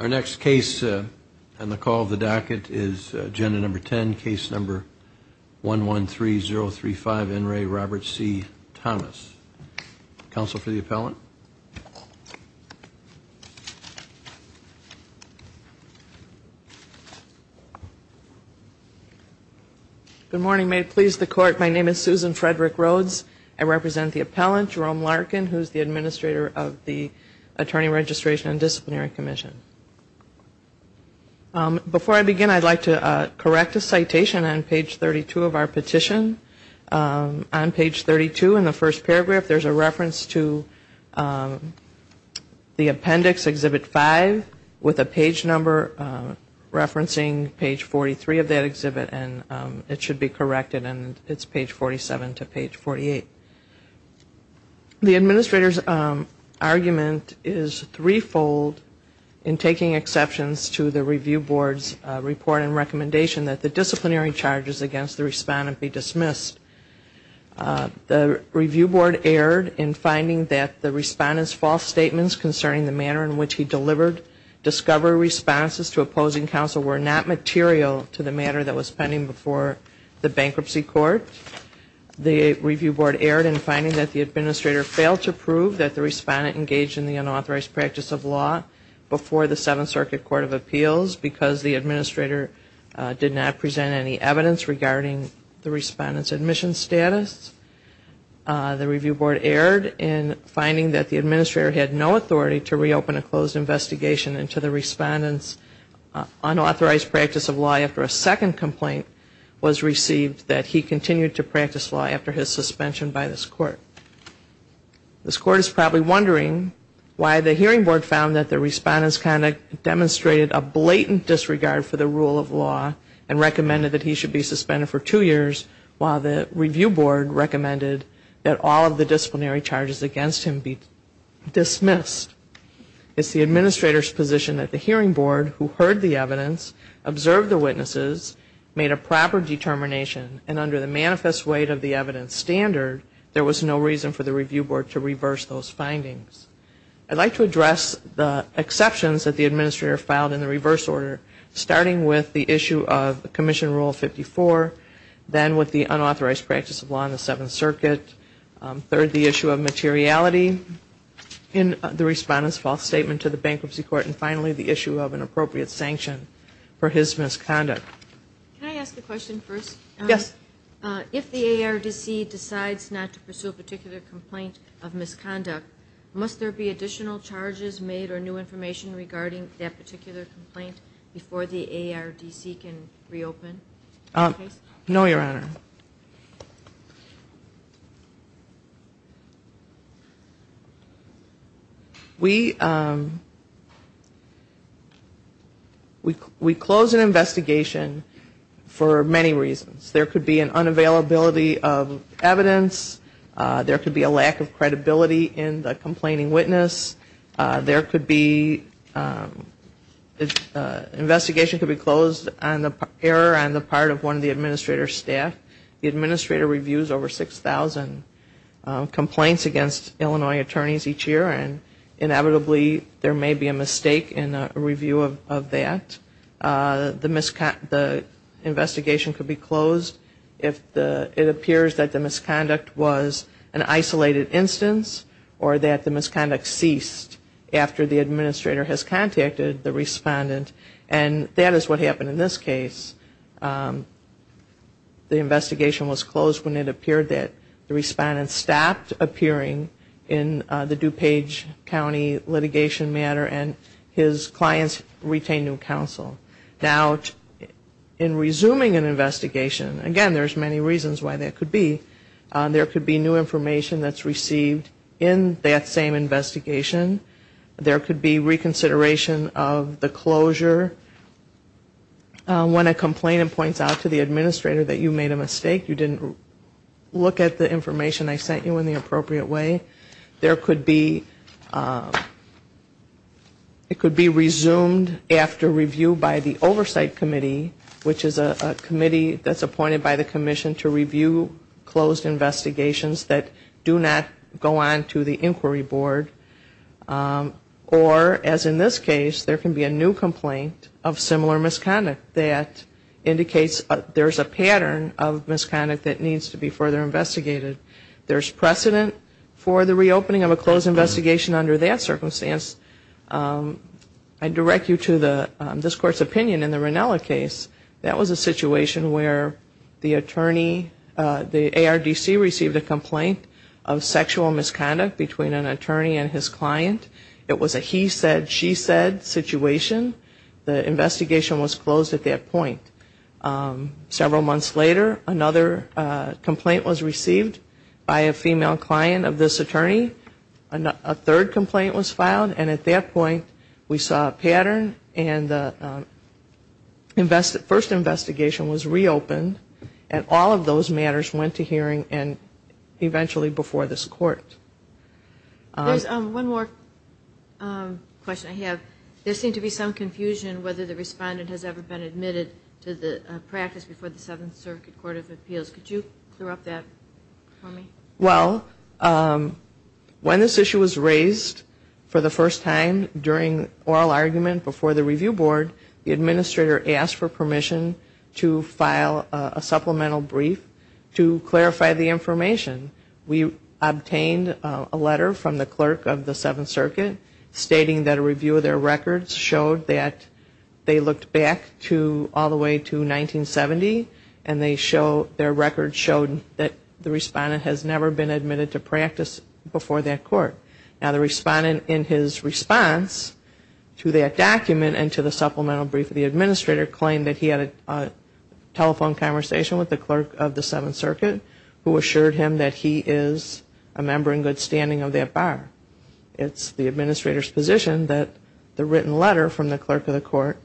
Our next case on the call of the docket is agenda number 10, case number 113035, N. Ray Robert C. Thomas. Counsel for the appellant? Good morning. May it please the court, my name is Susan Frederick-Rhodes. I represent the appellant, Jerome Larkin, who is the administrator of the Attorney Registration and Disciplinary Commission. Before I begin, I'd like to correct a citation on page 32 of our petition. On page 32 in the first paragraph, there's a reference to the appendix, exhibit 5, with a page number referencing page 43 of that exhibit, and it should be corrected and it's page 47 to page 48. The administrator's argument is threefold in taking exceptions to the review board's report and recommendation that the disciplinary charges against the respondent be dismissed. The review board erred in finding that the respondent's false statements concerning the manner in which he delivered discovery responses to opposing counsel were not material to the matter that was pending before the bankruptcy court. The review board erred in finding that the administrator failed to prove that the respondent engaged in the unauthorized practice of law before the Seventh Circuit Court of Appeals because the administrator did not present any evidence regarding the respondent's admission status. The review board erred in finding that the administrator had no authority to reopen a closed investigation and to the respondent's unauthorized practice of law after a second complaint was received that he continued to practice law after his suspension by this court. This court is probably wondering why the hearing board found that the respondent's conduct demonstrated a blatant disregard for the rule of law and recommended that he should be suspended for two years while the review board recommended that all of the disciplinary charges against him be dismissed. It's the administrator's position that the hearing board, who heard the evidence, observed the witnesses, made a proper determination, and under the manifest weight of the evidence standard, there was no reason for the review board to reverse those findings. I'd like to address the exceptions that the administrator filed in the reverse order, starting with the issue of Commission Rule 54, then with materiality in the respondent's false statement to the bankruptcy court, and finally the issue of an appropriate sanction for his misconduct. Can I ask a question first? Yes. If the ARDC decides not to pursue a particular complaint of misconduct, must there be additional charges made or new information regarding that particular complaint before the ARDC can reopen? No, Your Honor. We close an investigation for many reasons. There could be an unavailability of evidence. There could be a lack of credibility in the complaining witness. There could be an error on the part of one of the administrator's staff. The administrator reviews over 6,000 complaints against Illinois attorneys each year, and inevitably there may be a mistake in a review of that. The investigation could be closed if it appears that the misconduct was an isolated instance or that the misconduct ceased after the administrator has contacted the respondent, and that is what happened in this case. The investigation was closed when it appeared that the respondent stopped appearing in the DuPage County litigation matter and his clients retained new counsel. Now, in resuming an investigation, again there's many reasons why that could be. There could be new information that's received in that same investigation. There could be reconsideration of the closure. When a complainant points out to the administrator that you made a mistake, you didn't look at the information I sent you in the appropriate way. There could be, it could be resumed after review by the Oversight Committee, which is a committee that's appointed by the Commission to review closed investigations that do not go on to the Inquiry Board. Or, as in this case, there can be a new complaint of similar misconduct that indicates there's a pattern of misconduct that needs to be further investigated. There's precedent for the reopening of a closed investigation under that circumstance. I direct you to this Court's opinion in the Rinella case. That was a situation where the attorney, the ARDC, received a complaint of sexual misconduct between an attorney and his client. It was a he said, she said situation. The investigation was closed at that point. Several months later, another complaint was received by a female client of this attorney. A third complaint was filed. And at that point, we saw a pattern and the first investigation was reopened. And all of those matters went to hearing and eventually before this Court. There's one more question I have. There seemed to be some confusion whether the respondent has ever been admitted to the practice before the Seventh Circuit Court of Appeals. Could you clear up that for me? Well, when this issue was raised for the first time during oral argument before the Review Board, the administrator asked for permission to file a supplemental brief to clarify the information. We obtained a letter from the clerk of the Seventh Circuit stating that a review of their records showed that they looked back to all the way to 1970 and they showed their records showed that the respondent has never been admitted to practice before that court. Now the respondent in his response to that document and to the supplemental brief of the administrator claimed that he had a telephone conversation with the clerk of the Seventh Circuit who assured him that he is a member in good standing of that bar. It's the administrator's position that the written letter from the clerk of the court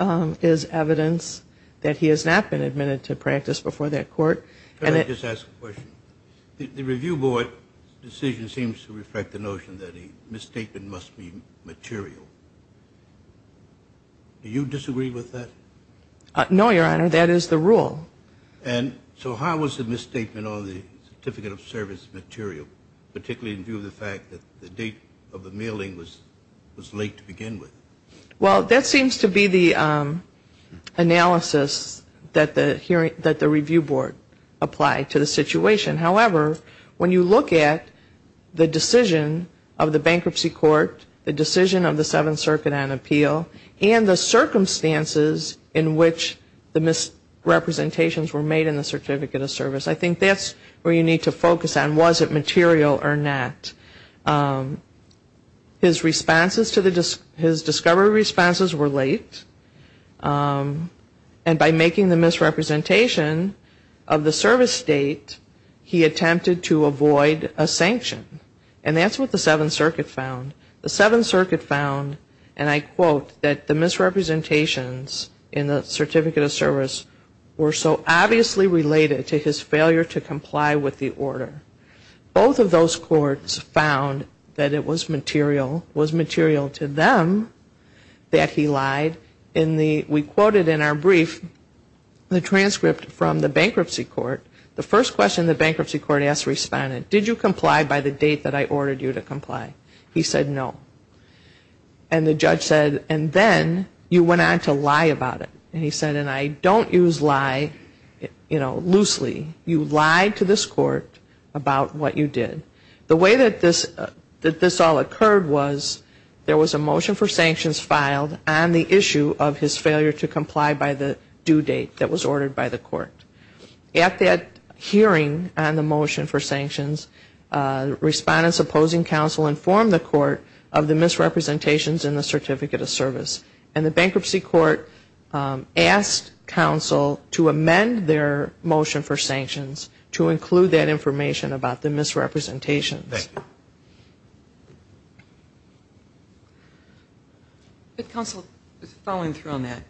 is evidence that he has not been admitted to practice before that court. Can I just ask a question? The Review Board decision seems to reflect the notion that a misstatement must be material. Do you disagree with that? No, Your Honor. That is the rule. And so how was the misstatement on the certificate of service material, particularly in view of the fact that the date of the mailing was late to begin with? Well, that seems to be the analysis that the Review Board applied to the situation. However, when you look at the decision of the bankruptcy court, the decision of the Seventh Circuit on appeal, and the circumstances in which the misrepresentations were made in the certificate of service, I think that's where you need to focus on was it material or not. His responses to the, his discovery responses were late. And by making the misrepresentation of the service date, he attempted to avoid a sanction. And that's what the Seventh Circuit found. The Seventh Circuit found, and I quote, that the misrepresentations in the certificate of service were so obviously related to his failure to comply with the order. Both of those courts found that it was material, was material to them that he lied. We quoted in our brief the transcript from the bankruptcy court. The first question the bankruptcy court asked the respondent, did you comply by the date that I ordered you to comply? He said no. And the judge said, and then you went on to lie about it. And he said, and I don't use lie, you know, loosely. You lied to this court about what you did. The way that this all occurred was there was a motion for sanctions filed on the issue of his failure to comply by the due date that was ordered by the court. At that hearing on the motion for sanctions, respondents opposing counsel informed the court of the misrepresentations in the certificate of service. And the bankruptcy court asked counsel to amend their motion for sanctions to include that information about the misrepresentations. But counsel, following through on that,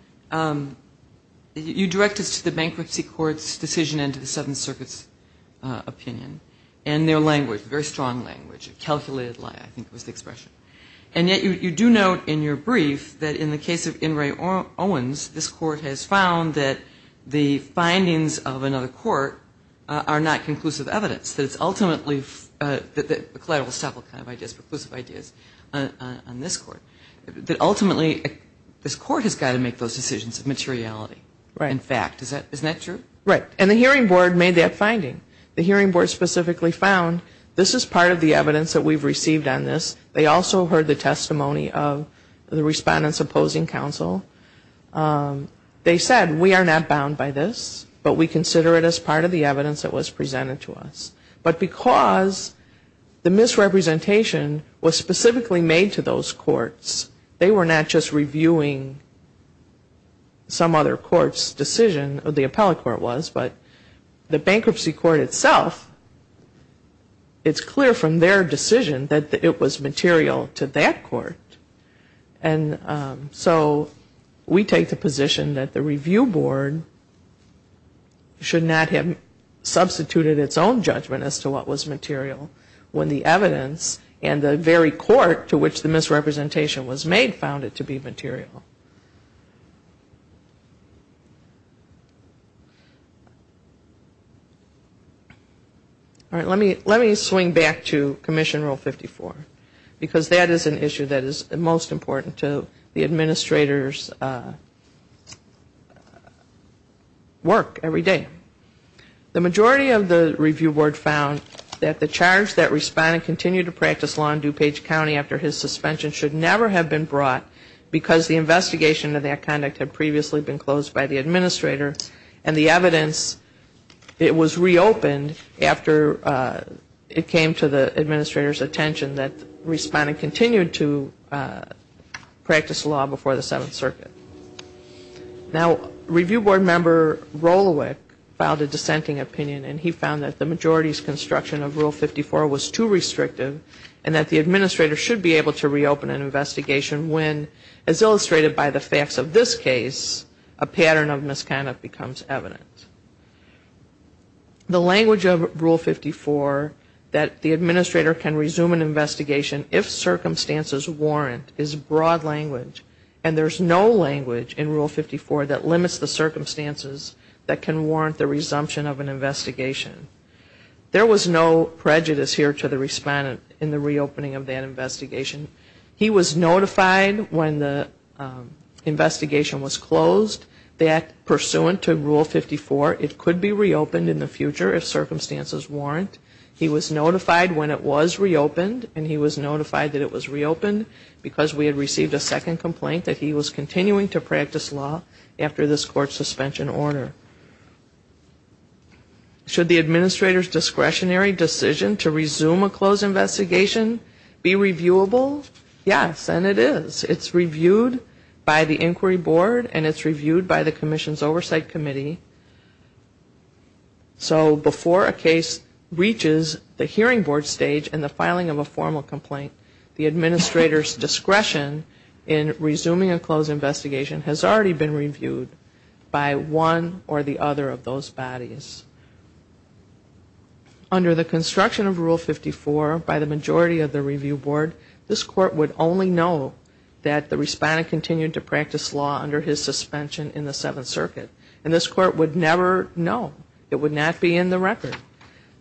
you directed us to the bankruptcy court's decision and to the Seventh Circuit's opinion. And their language, very strong language, calculated lie, I think was the expression. And yet you do note in your brief that in the case of In re Owens, this court has found that the findings of another court are not conclusive evidence. That it's ultimately, that the collateral will stop all kinds of ideas, conclusive ideas on this court. That ultimately this court has got to make those decisions of materiality and fact. Isn't that true? Right. And the hearing board made that finding. The hearing board specifically found this is part of the evidence that we've received on this. They also heard the testimony of the respondents opposing counsel. They said, we are not bound by this, but we consider it as part of the evidence that was presented to us. But because the misrepresentation was specifically made to those courts, they were not just reviewing some other court's decision, the appellate court was, but the bankruptcy court itself, it's clear from their decision that it was material to that court. And so we take the position that the review board should not have substituted its own judgment as to what was material when the evidence and the very court to which the misrepresentation was made found it to be material. All right. Let me swing back to Commission Rule 54 because that is an issue that is most important to the administrator's work every day. The majority of the review board found that the charge that respondent continued to practice law in DuPage County after his suspension should never have been brought because the investigation of that conduct had previously been closed by the administrator and the evidence, it was reopened after it came to the administrator's attention that the respondent continued to practice law before the Seventh Circuit. Now, review board member Rolowick filed a dissenting opinion and he found that the majority's construction of Rule 54 was too restrictive and that the administrator should be able to reopen an investigation when, as illustrated by the facts of this case, a pattern of misconduct becomes evident. The language of Rule 54 that the administrator can resume an investigation if circumstances warrant is broad language and there's no language in Rule 54 that limits the circumstances that can warrant the resumption of an investigation. There was no prejudice here to the respondent in the reopening of that investigation. He was notified when the investigation was closed that, pursuant to Rule 54, it could be reopened in the future if circumstances warrant. He was notified when it was reopened and he was notified that it was reopened because we had received a second complaint that he was continuing to practice law after this court's suspension order. Should the administrator's discretionary decision to resume a closed investigation be reviewable? Yes, and it is. It's reviewed by the inquiry board and it's reviewed by the Commission's Oversight Committee. So before a case reaches the hearing board stage and the filing of an investigation has already been reviewed by one or the other of those bodies. Under the construction of Rule 54, by the majority of the review board, this court would only know that the respondent continued to practice law under his suspension in the Seventh Circuit and this court would never know. It would not be in the record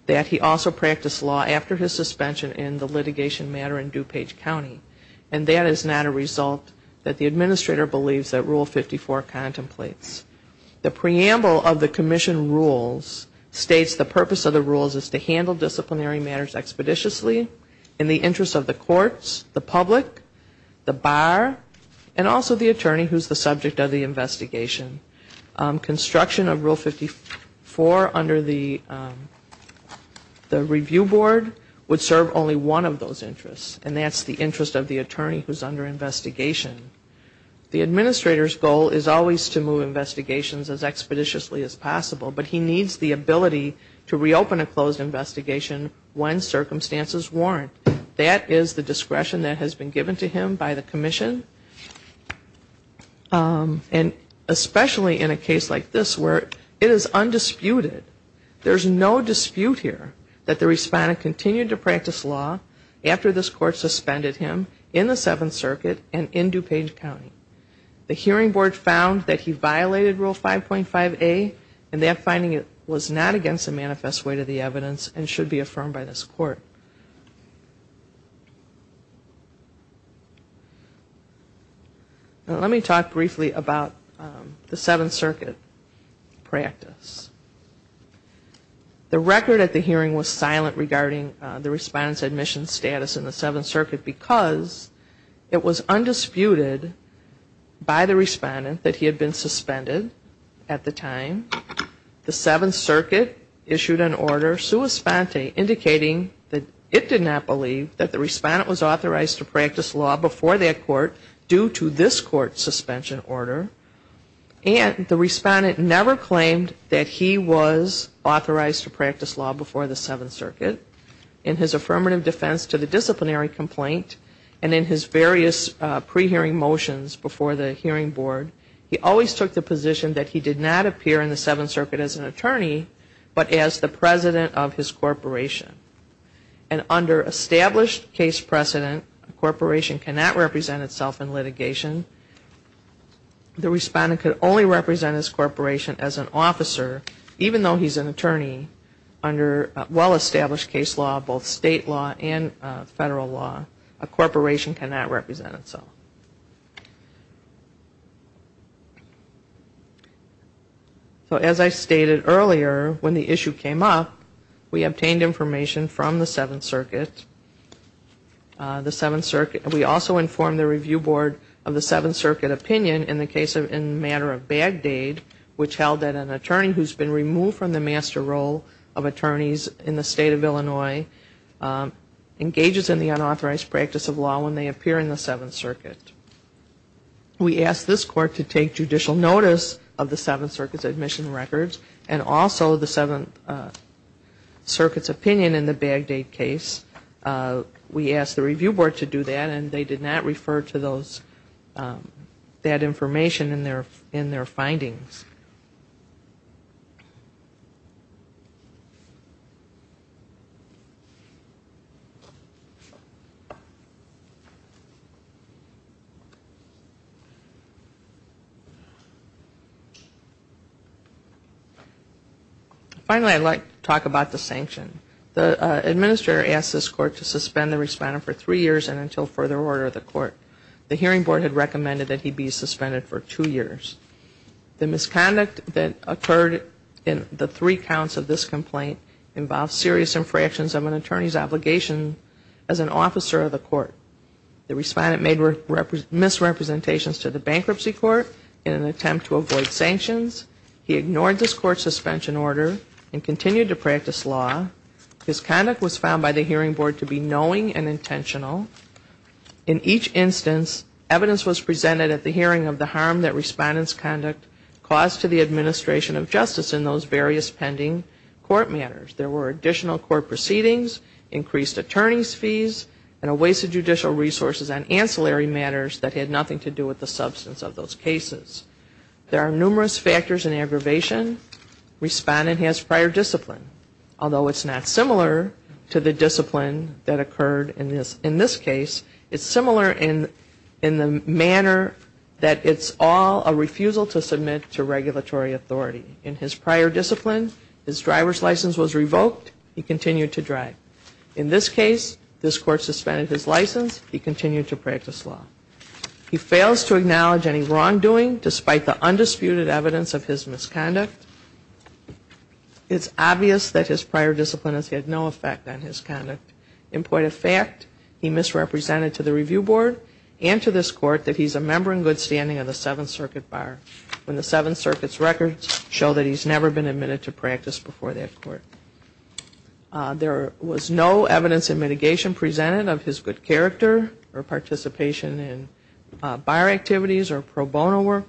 that he also practiced law after his suspension in the litigation matter in DuPage County and that is not a The preamble of the Commission rules states the purpose of the rules is to handle disciplinary matters expeditiously in the interest of the courts, the public, the bar, and also the attorney who is the subject of the investigation. Construction of Rule 54 under the review board would serve only one of those interests and that's the interest of the attorney who is under investigation. The administrator's goal is always to move investigations as expeditiously as possible but he needs the ability to reopen a closed investigation when circumstances warrant. That is the discretion that has been given to him by the Commission and especially in a case like this where it is undisputed. There's no dispute here that the respondent continued to practice law after this court suspended him in the Seventh Circuit and in DuPage County. The hearing board found that he violated Rule 5.5A and that finding was not against the manifest weight of the evidence and should be affirmed by this court. Let me talk briefly about the Seventh Circuit practice. The record at the hearing was silent regarding the respondent's admission status in the Seventh Circuit because it was undisputed by the respondent that he had been suspended at the time. The Seventh Circuit issued an order sua sponte indicating that it did not believe that the respondent was authorized to practice law before that court due to this court's suspension order and the respondent never claimed that he was authorized to practice law before the Seventh Circuit. In his affirmative defense to the disciplinary complaint and in his various pre-hearing motions before the hearing board, he always took the position that he did not appear in the Seventh Circuit as an attorney but as the president of his corporation. And under established case precedent, a corporation cannot represent itself in litigation. The respondent could only represent his corporation as an officer even though he's an attorney under well-established case law, both state law and federal law. A corporation cannot represent itself. So as I stated earlier when the issue came up, we obtained information from the Seventh Circuit. We also informed the review board of the Seventh Circuit opinion in the case in the matter of Bagdade which held that an attorney who's been removed from the master role of attorneys in the state of Illinois engages in the unauthorized practice of law when they appear in the Seventh Circuit. We asked this court to take judicial notice of the Seventh Circuit's admission records and also the Seventh Circuit's opinion in the Bagdade case. We asked the review board to do that and they did not refer to those, that information in their findings. Finally, I'd like to talk about the sanction. The administrator asked this court to suspend the respondent for three years and until further order of the court. The hearing board had recommended that he be suspended for two years. The misconduct that occurred in the three counts of this complaint involved serious infractions of an attorney's obligation as an officer of the court. The respondent made misrepresentations to the bankruptcy court in an attempt to avoid sanctions. He ignored this court's suspension order and continued to practice law. His conduct was found by the hearing board to be knowing and intentional. In each instance, evidence was presented at the hearing of the harm that respondent's conduct caused to the administration of justice in those various pending court matters. There were additional court proceedings, increased attorney's fees, and a waste of judicial resources on ancillary matters that had nothing to do with the substance of those cases. There are numerous factors in aggravation. Respondent has prior discipline, although it's not similar to the discipline that occurred in this case. It's similar in the manner that it's all a refusal to submit to regulatory authority. In his prior discipline, his driver's license was revoked. He continued to drive. In this case, this court suspended his license. He continued to practice law. He fails to acknowledge any wrongdoing despite the undisputed evidence of his misconduct. It's obvious that his prior discipline has had no effect on his conduct. In point of fact, he misrepresented to the review board and to this court that he's a member in good standing of the Seventh Circuit Bar when the Seventh Circuit's records show that he's never been admitted to practice before that court. There was no evidence in good character or participation in bar activities or pro bono work.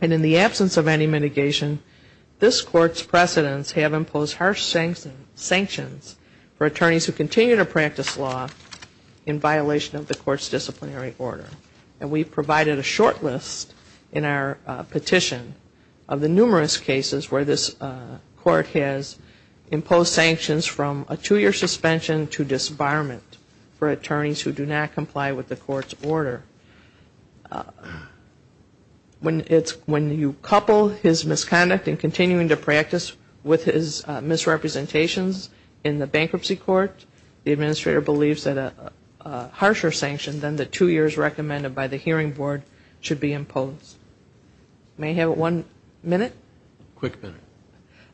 And in the absence of any mitigation, this court's precedents have imposed harsh sanctions for attorneys who continue to practice law in violation of the court's disciplinary order. And we provided a short list in our petition of the numerous cases where this court has imposed sanctions from a two-year suspension to disbarment for attorneys who do not comply with the court's order. When you couple his misconduct and continuing to practice with his misrepresentations in the bankruptcy court, the administrator believes that a harsher sanction than the two years recommended by the hearing board should be imposed. May I have one minute? Quick minute.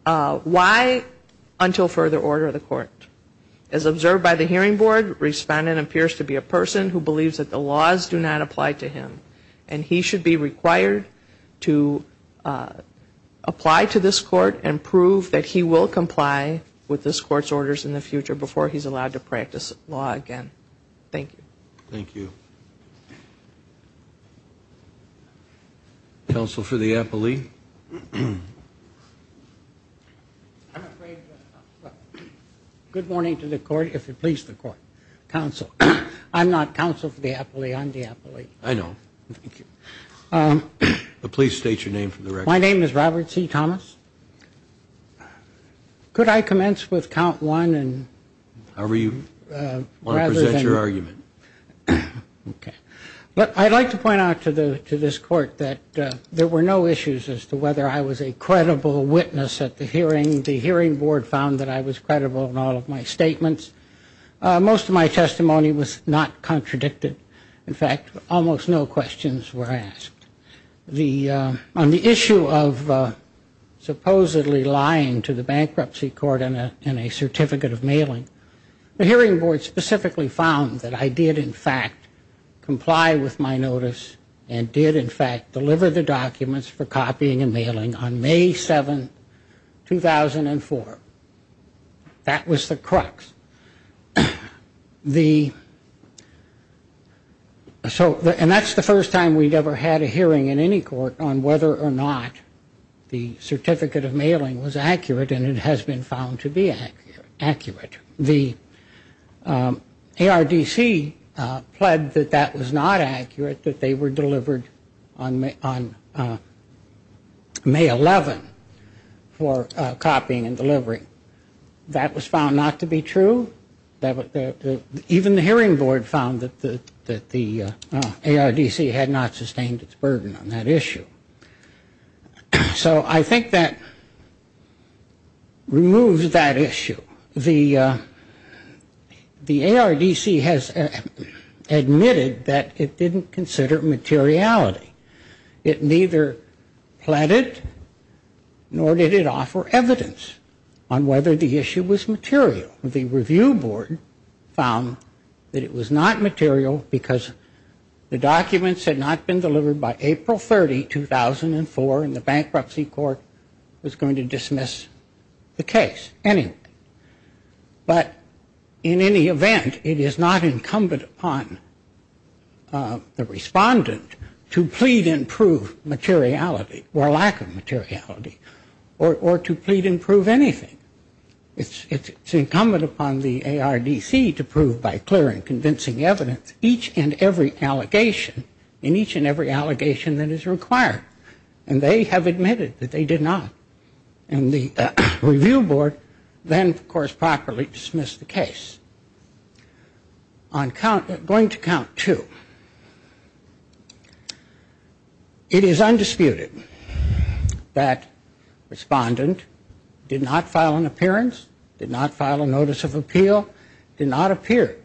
Why until further order of the court? As observed by the hearing board, respondent appears to be a person who believes that the laws do not apply to him. And he should be required to apply to this court and prove that he will comply with this court's orders in the future before he's allowed to practice law again. Thank you. Thank you. Counsel for the appellee? Good morning to the court, if it pleases the court. Counsel. I'm not counsel for the appellee, I'm the appellee. I know. Thank you. But please state your name for the record. My name is Robert C. Thomas. Could I commence with count one and rather than... I'd like to point out to this court that there were no issues as to whether I was a credible witness at the hearing. The hearing board found that I was credible in all of my statements. Most of my testimony was not contradicted. In fact, almost no questions were asked. On the issue of supposedly lying to the bankruptcy court in a certificate of mailing, the hearing board specifically found that I did in fact comply with my notice and did in fact deliver the documents for copying and mailing on May 7, 2004. That was the crux. And that's the first time we'd ever had a hearing in any court on whether or not the ARDC pled that that was not accurate, that they were delivered on May 11 for copying and delivering. That was found not to be true. Even the hearing board found that the ARDC had not sustained its burden on that issue. So I think that removes that issue. The ARDC has admitted that it didn't consider materiality. It neither pleaded nor did it offer evidence on whether the issue was material. The review board found that it was not material because the documents had not been delivered by April 30, 2004, and the bankruptcy court was going to dismiss the case anyway. But in any event, it is not incumbent upon the respondent to plead and prove materiality or lack of materiality or to plead and prove anything. It's incumbent upon the ARDC to plead and prove materiality or to plead and prove anything. And the review board then, of course, properly dismissed the case. Going to count two. It is undisputed that the respondent did not file an appearance, did not file a notice of appeal, did not appear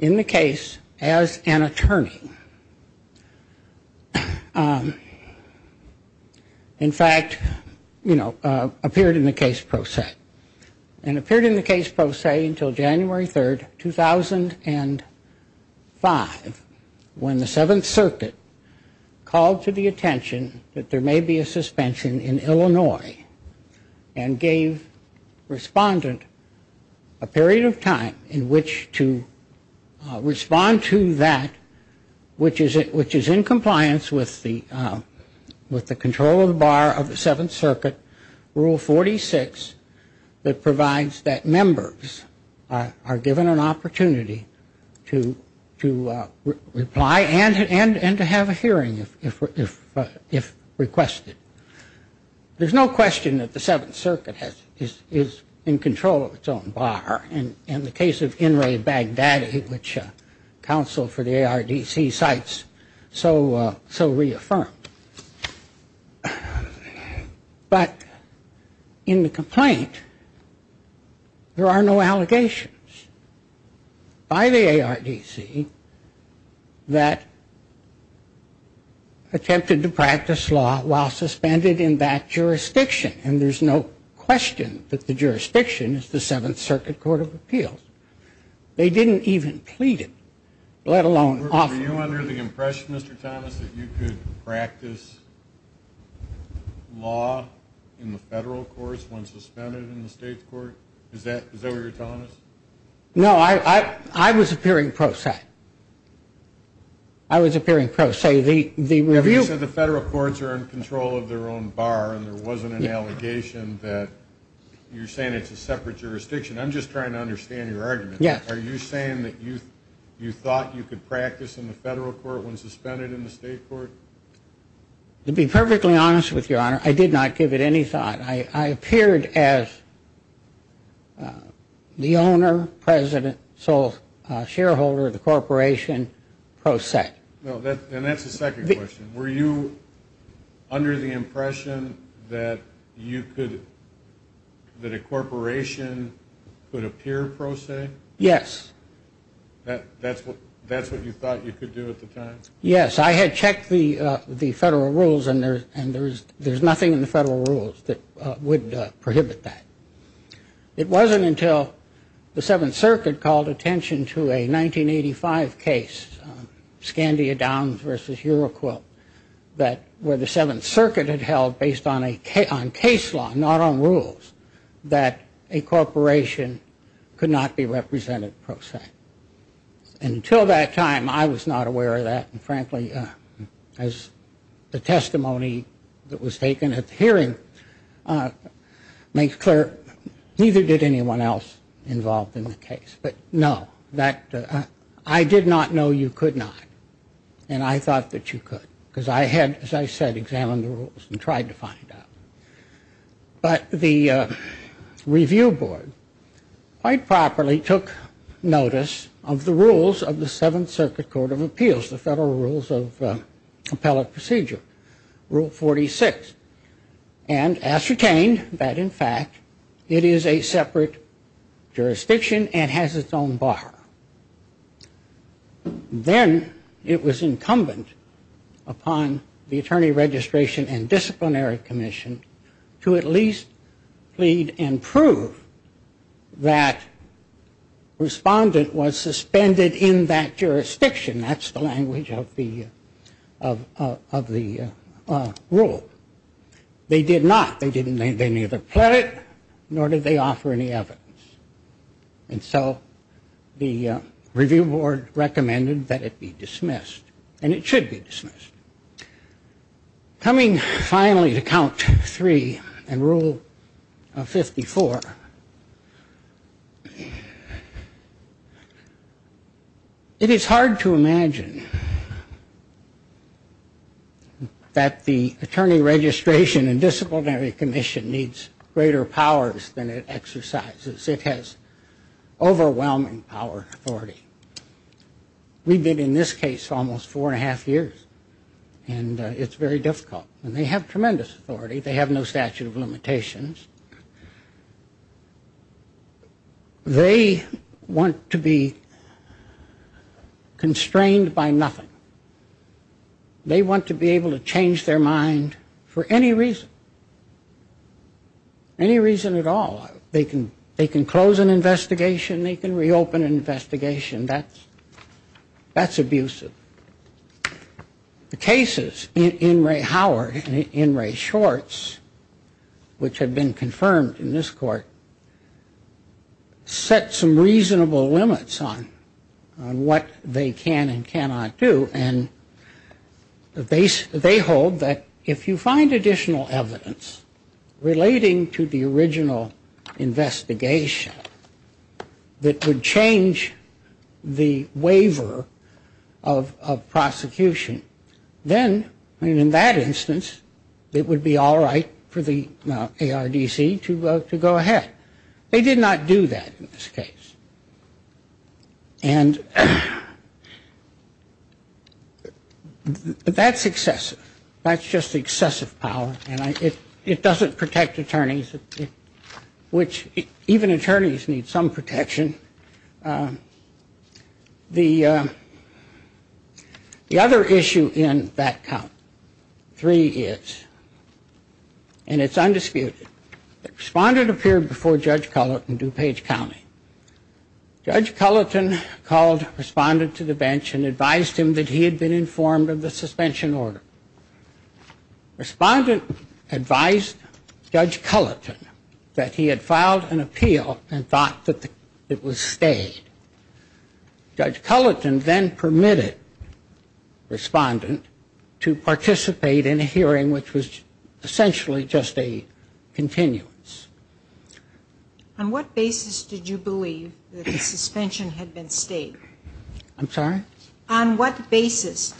in the case as an attorney. In fact, you know, appeared in the case pro se. And appeared in the case pro se until January 3, 2005, when the Seventh Circuit called to the attention that there may be a suspension in Illinois and gave the respondent a period of time in which to respond to that which is in compliance with the control of the bar of the Seventh Circuit, Rule 46, that provides that members are given an opportunity to reply and to have a hearing if requested. There's no question that the Seventh Circuit is in control of its own bar, and the case of In re Baghdadi, which counsel for the ARDC cites, so reaffirmed. But in the complaint, there are no allegations by the ARDC that attempted to practice law while suspended in that jurisdiction. And there's no question that the jurisdiction is the Seventh Circuit Court of Appeals. They didn't even plead it, let alone offer it. Were you under the impression, Mr. Thomas, that you could practice law in the federal courts when suspended in the state's court? Is that what you're telling us? No, I was appearing pro se. I was appearing pro se. You said the federal courts are in control of their own bar, and there wasn't an allegation that you're saying it's a separate jurisdiction. I'm just trying to understand your argument. Are you saying that you thought you could practice in the federal court when suspended in the state court? To be perfectly honest with you, Your Honor, I did not give it any thought. I appeared as the owner, president, sole shareholder of the corporation pro se. And that's the second question. Were you under the impression that you could, that a corporation could appear pro se? Yes. That's what you thought you could do at the time? Yes. I had checked the federal rules, and there's nothing in the federal rules that would prohibit that. It wasn't until the Seventh Circuit called attention to a 1985 case, Scandia Downs v. Huroquilt, where the Seventh Circuit had held based on case law, not on rules, that a corporation could not be represented pro se. And until that time, I was not aware of that, and frankly, as the testimony that was taken at the hearing makes clear, neither did anyone else involved in the case. But no, I did not know you could not, and I thought that you could, because I had, as I said, examined the rules and tried to find out. But the review board quite properly took notice of the rules of the Seventh Circuit Court of Appeals, the federal rules of appellate procedure, Rule 46, and ascertained that in fact it is a separate jurisdiction and has its own bar. Then it was incumbent upon the Attorney Registration and Disciplinary Commission to at least plead and prove that respondent was suspended in that jurisdiction. That's the language of the rule. They did not. They neither pled it, nor did they offer any evidence. And so the review board recommended that it be dismissed, and it should be dismissed. Coming finally to Count 3 and Rule 54, it is hard to imagine that the Attorney Registration and Disciplinary Commission needs greater powers than it exercises. It has overwhelming power and authority. We've been in this case almost four and a half years, and it's very difficult. And they have tremendous authority. They have no statute of limitations. They want to be constrained by nothing. They want to be able to change their mind for any reason. Any reason at all. They can close an investigation. They can reopen an investigation. That's abusive. The cases in Ray Howard and in Ray Schwartz, which have been confirmed in this court, set some reasonable limits on what they can and cannot do. And they hold that if you find additional evidence relating to the original case that would change the waiver of prosecution, then in that instance, it would be all right for the ARDC to go ahead. They did not do that in this case. That's excessive. That's just excessive power, and it doesn't protect attorneys. Even attorneys need some protection. The other issue in that count, three is, and it's undisputed, the respondent appeared before Judge Cullet in DuPage County. Judge Cullet called the respondent to the bench and advised him that he had been informed of the suspension order. Respondent advised Judge Cullet that he had filed an appeal and thought that it was stayed. Judge Cullet then permitted respondent to participate in a hearing which was essentially just a continuance. On what basis did you believe that the suspension had been stayed? I'm sorry? On the basis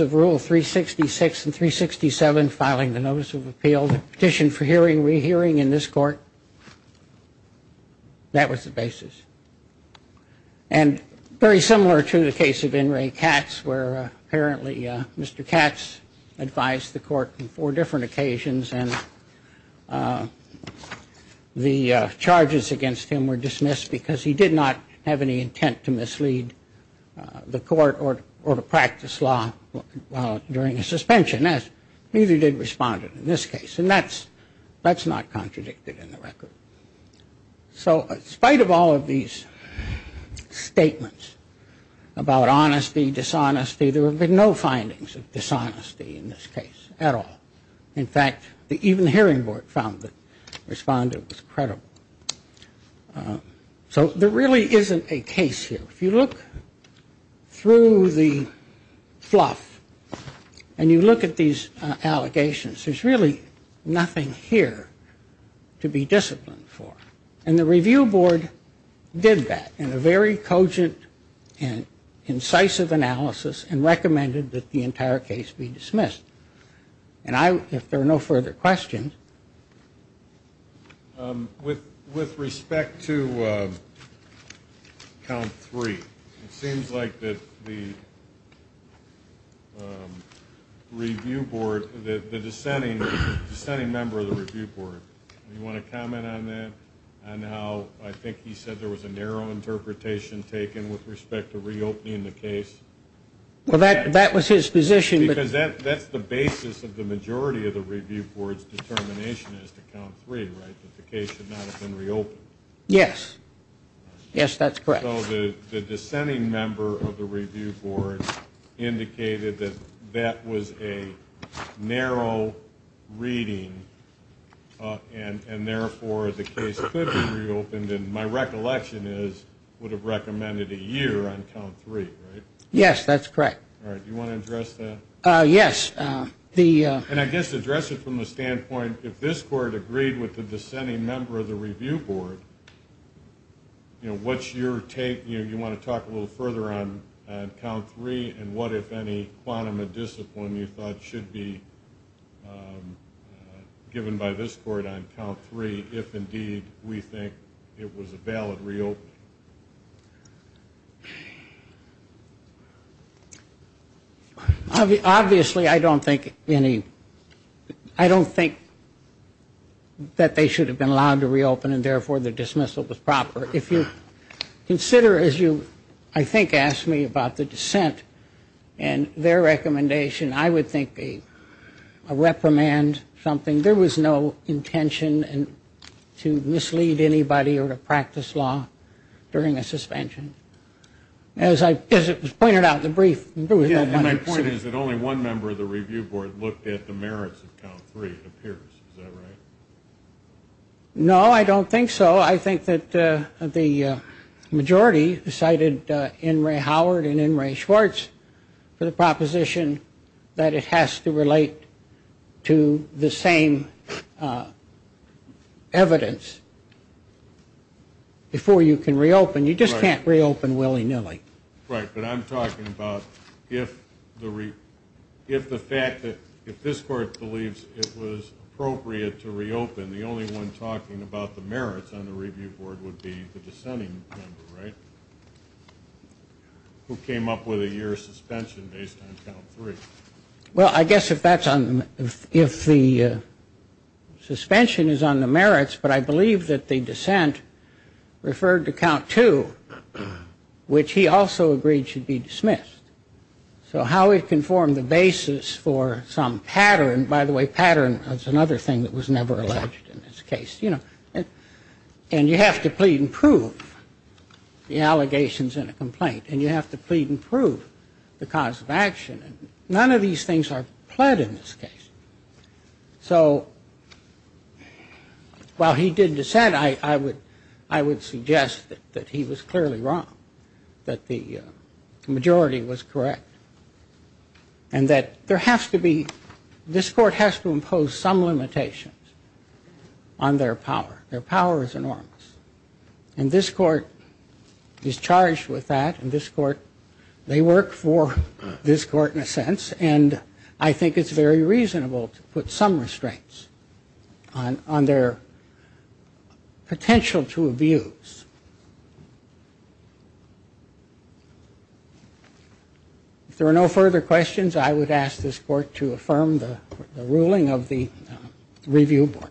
of Rule 366 and 367, filing the notice of appeal, the petition for hearing, rehearing in this court, that was the basis. And very similar to the case of In re Katz, where apparently Mr. Katz advised the court on four different occasions, and the charges against him were dismissed because he did not have any intent to mislead the court or to practice law during a suspension, as neither did respondent in this case. And that's not contradicted in the record. So in spite of all of these statements about honesty, dishonesty, there have been no findings of dishonesty in this case at all. In fact, even the hearing board found the respondent was credible. So there really isn't a case here. If you look through the fluff and you look at these allegations, there's really nothing here to be disciplined for. And the review board did that in a very cogent and incisive analysis and recommended that the entire case be dismissed. And I, if there are no further questions. With respect to count three, it seems like that the review board, the dissenting member of the review board, do you want to comment on that, on how I think he said there was a narrow interpretation taken with respect to reopening the case? Well, that was his position. Because that's the basis of the majority of the review board's determination as to count three, right, that the case should not have been reopened. Yes. Yes, that's correct. So the dissenting member of the review board indicated that that was a narrow reading, and therefore the case could be reopened. And my recollection is it would have recommended a year on count three, right? Yes, that's correct. All right. Do you want to address that? Yes. And I guess address it from the standpoint, if this court agreed with the dissenting member of the review board, you know, what's your take? You know, you want to talk a little further on count three and what, if any, quantum of discipline you thought should be given by this court on count three, if indeed we think it was a valid reopening? Obviously, I don't think any, I don't think that they should have been allowed to reopen, and therefore the dismissal was proper. If you consider, as you, I think, asked me about the dissent and their recommendation, I would think a reprimand, something. There was no intention to mislead anybody or to practice law during a sentencing. As it was pointed out in the brief. No, I don't think so. I think that the majority cited N. Ray Howard and N. Ray Schwartz for the proposition that it has to relate to the same evidence before you can reopen. You just can't reopen willy-nilly. Right, but I'm talking about if the fact that if this court believes it was appropriate to reopen, the only one talking about the merits on the review board would be the dissenting member, right? Who came up with a year suspension based on count three. Well, I guess if that's on, if the suspension is on the merits, but I believe that the dissent referred to count two. Which he also agreed should be dismissed. So how it can form the basis for some pattern, by the way, pattern is another thing that was never alleged in this case, you know. And you have to plead and prove the allegations in a complaint. And you have to plead and prove the cause of action. So while he did dissent, I would suggest that he was clearly wrong. That the majority was correct. And that there has to be, this court has to impose some limitations on their power. Their power is enormous. And this court is charged with that. And this court, they work for this court in a sense. And I think it's very reasonable to put some restraints on their potential to abuse. If there are no further questions, I would ask this court to affirm the ruling of the review board.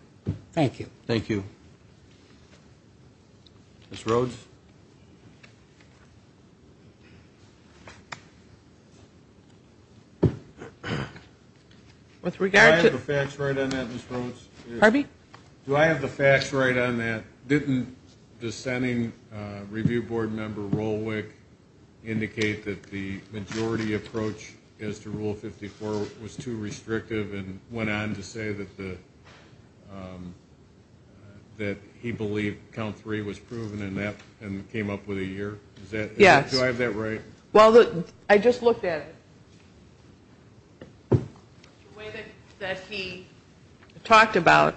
Thank you. With regard to Do I have the facts right on that, Ms. Rhodes? Do I have the facts right on that? Didn't dissenting review board member Rolwick indicate that the majority approach as to Rule 54 was too restrictive and went on to say that he believed count three was proven and came up with a year? Do I have that right? Well, I just looked at it. The way that he talked about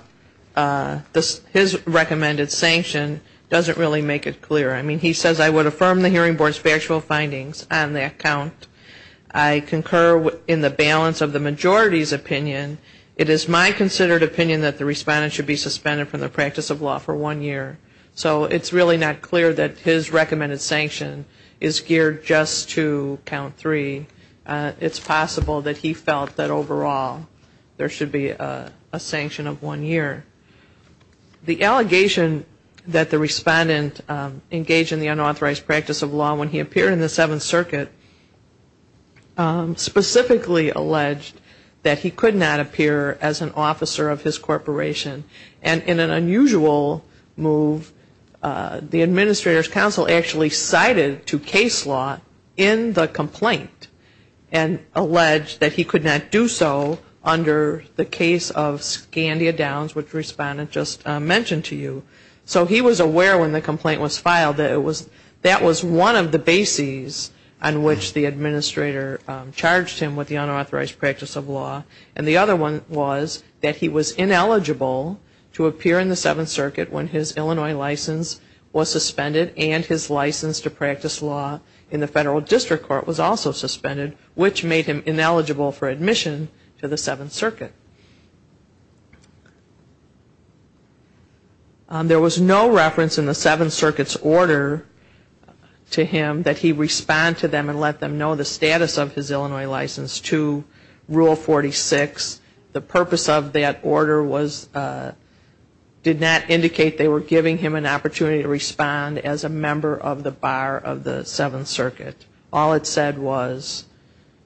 his recommended sanction doesn't really make it clear. I mean, he says, I would affirm the hearing board's factual findings on that count. I concur in the balance of the majority's opinion. It is my considered opinion that the respondent should be suspended from the practice of law for one year. So it's really not clear that his recommended sanction is geared just to count three. It's possible that he felt that overall there should be a sanction of one year. The allegation that the respondent engaged in the unauthorized practice of law when he appeared in the Seventh Circuit did not appear as an officer of his corporation. And in an unusual move, the administrator's counsel actually cited to case law in the complaint and alleged that he could not do so under the case of Scandia Downs, which the respondent just mentioned to you. So he was aware when the complaint was filed that it was, that was one of the bases on which the administrator charged him with the unauthorized practice of law. And the other one was that he was ineligible to appear in the Seventh Circuit when his Illinois license was suspended and his license to practice law in the Federal District Court was also suspended, which made him ineligible for admission to the Seventh Circuit. There was no reference in the Seventh Circuit's order to him that he respond to them and let them know the status of his Illinois license to Rule 46. The purpose of that order was, did not indicate they were giving him an opportunity to respond as a member of the bar of the Seventh Circuit. All it said was,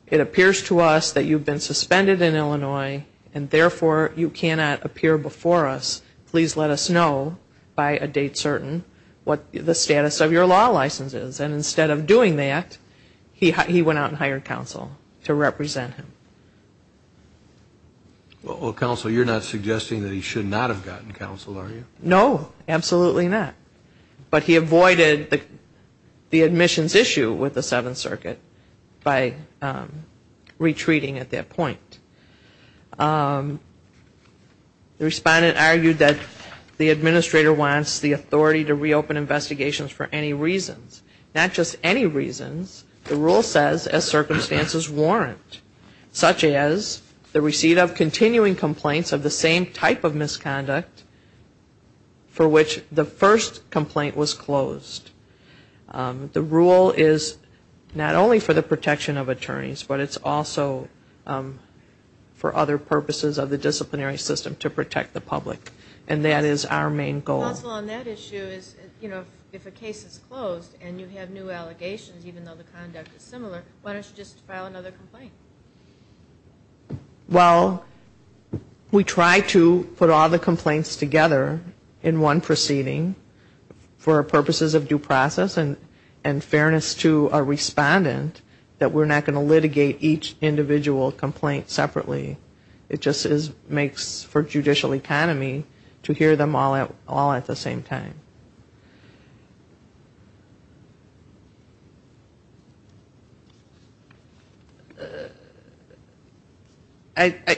it appears to us that you've been suspended in Illinois and therefore you cannot appear before us. Please let us know by a date certain what the status of your law license is. And instead of doing that, he went out and hired counsel to represent him. Well, counsel, you're not suggesting that he should not have gotten counsel, are you? No, absolutely not. But he avoided the admissions issue with the Seventh Circuit by retreating at that point. The respondent argued that the administrator wants the authority to reopen investigations for any reasons. And not just any reasons. The rule says, as circumstances warrant. Such as the receipt of continuing complaints of the same type of misconduct for which the first complaint was closed. The rule is not only for the protection of attorneys, but it's also for other purposes of the disciplinary system to protect the public. And that is our main goal. Counsel, on that issue, if a case is closed and you have new allegations, even though the conduct is similar, why don't you just file another complaint? Well, we try to put all the complaints together in one proceeding. For purposes of due process and fairness to a respondent, that we're not going to litigate each individual complaint separately. It just makes for judicial economy to hear them all at the same time.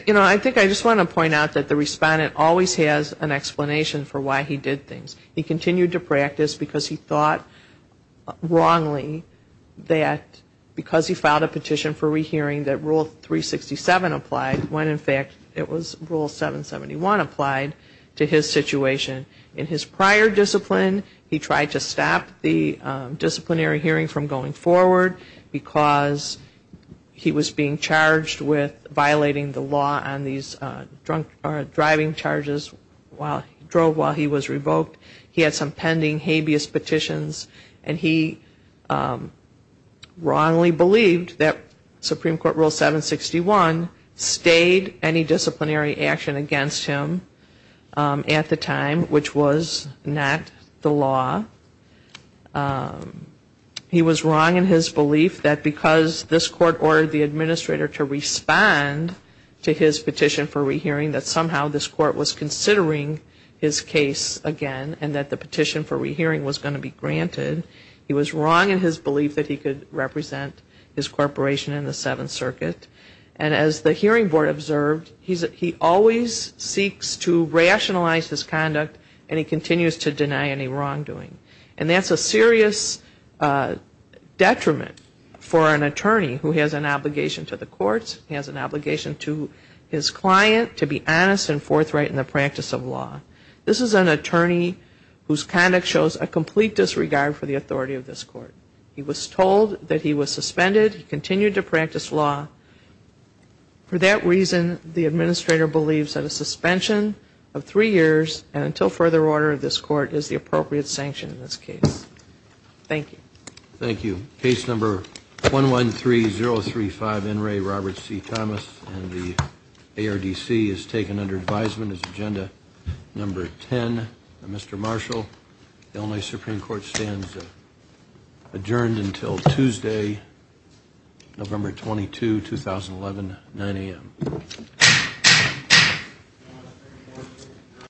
You know, I think I just want to point out that the respondent always has an explanation for why he did things. He continued to practice because he thought wrongly that because he filed a petition for rehearing that Rule 367 applies, when in fact it was Rule 771 applied to his situation. In his prior discipline, he tried to stop the disciplinary hearing from going forward, because he was being charged with violating the law on these drunk driving charges while he drove while he was revoked. He had some pending habeas petitions. And he wrongly believed that Supreme Court Rule 761 stayed any disciplinary action against him at the time, which was not the law. He was wrong in his belief that because this court ordered the administrator to respond to his petition for rehearing, that somehow this court was considering his case again and that the petition for rehearing was going to be granted. He was wrong in his belief that he could represent his corporation in the Seventh Circuit. And as the hearing board observed, he always seeks to rationalize his conduct and he continues to deny any wrongdoing. And that's a serious detriment for an attorney who has an obligation to the courts. He has an obligation to his client to be honest and forthright in the practice of law. This is an attorney whose conduct shows a complete disregard for the authority of this court. He was told that he was suspended. He continued to practice law. For that reason, the administrator believes that a suspension of three years and until further order of this court is the appropriate sanction in this case. Thank you. Case number 113035 N. Ray Roberts C. Thomas and the ARDC is taken under advisement as agenda number 10. Mr. Marshall, Illinois Supreme Court stands adjourned until Tuesday, November 22, 2011, 9 a.m.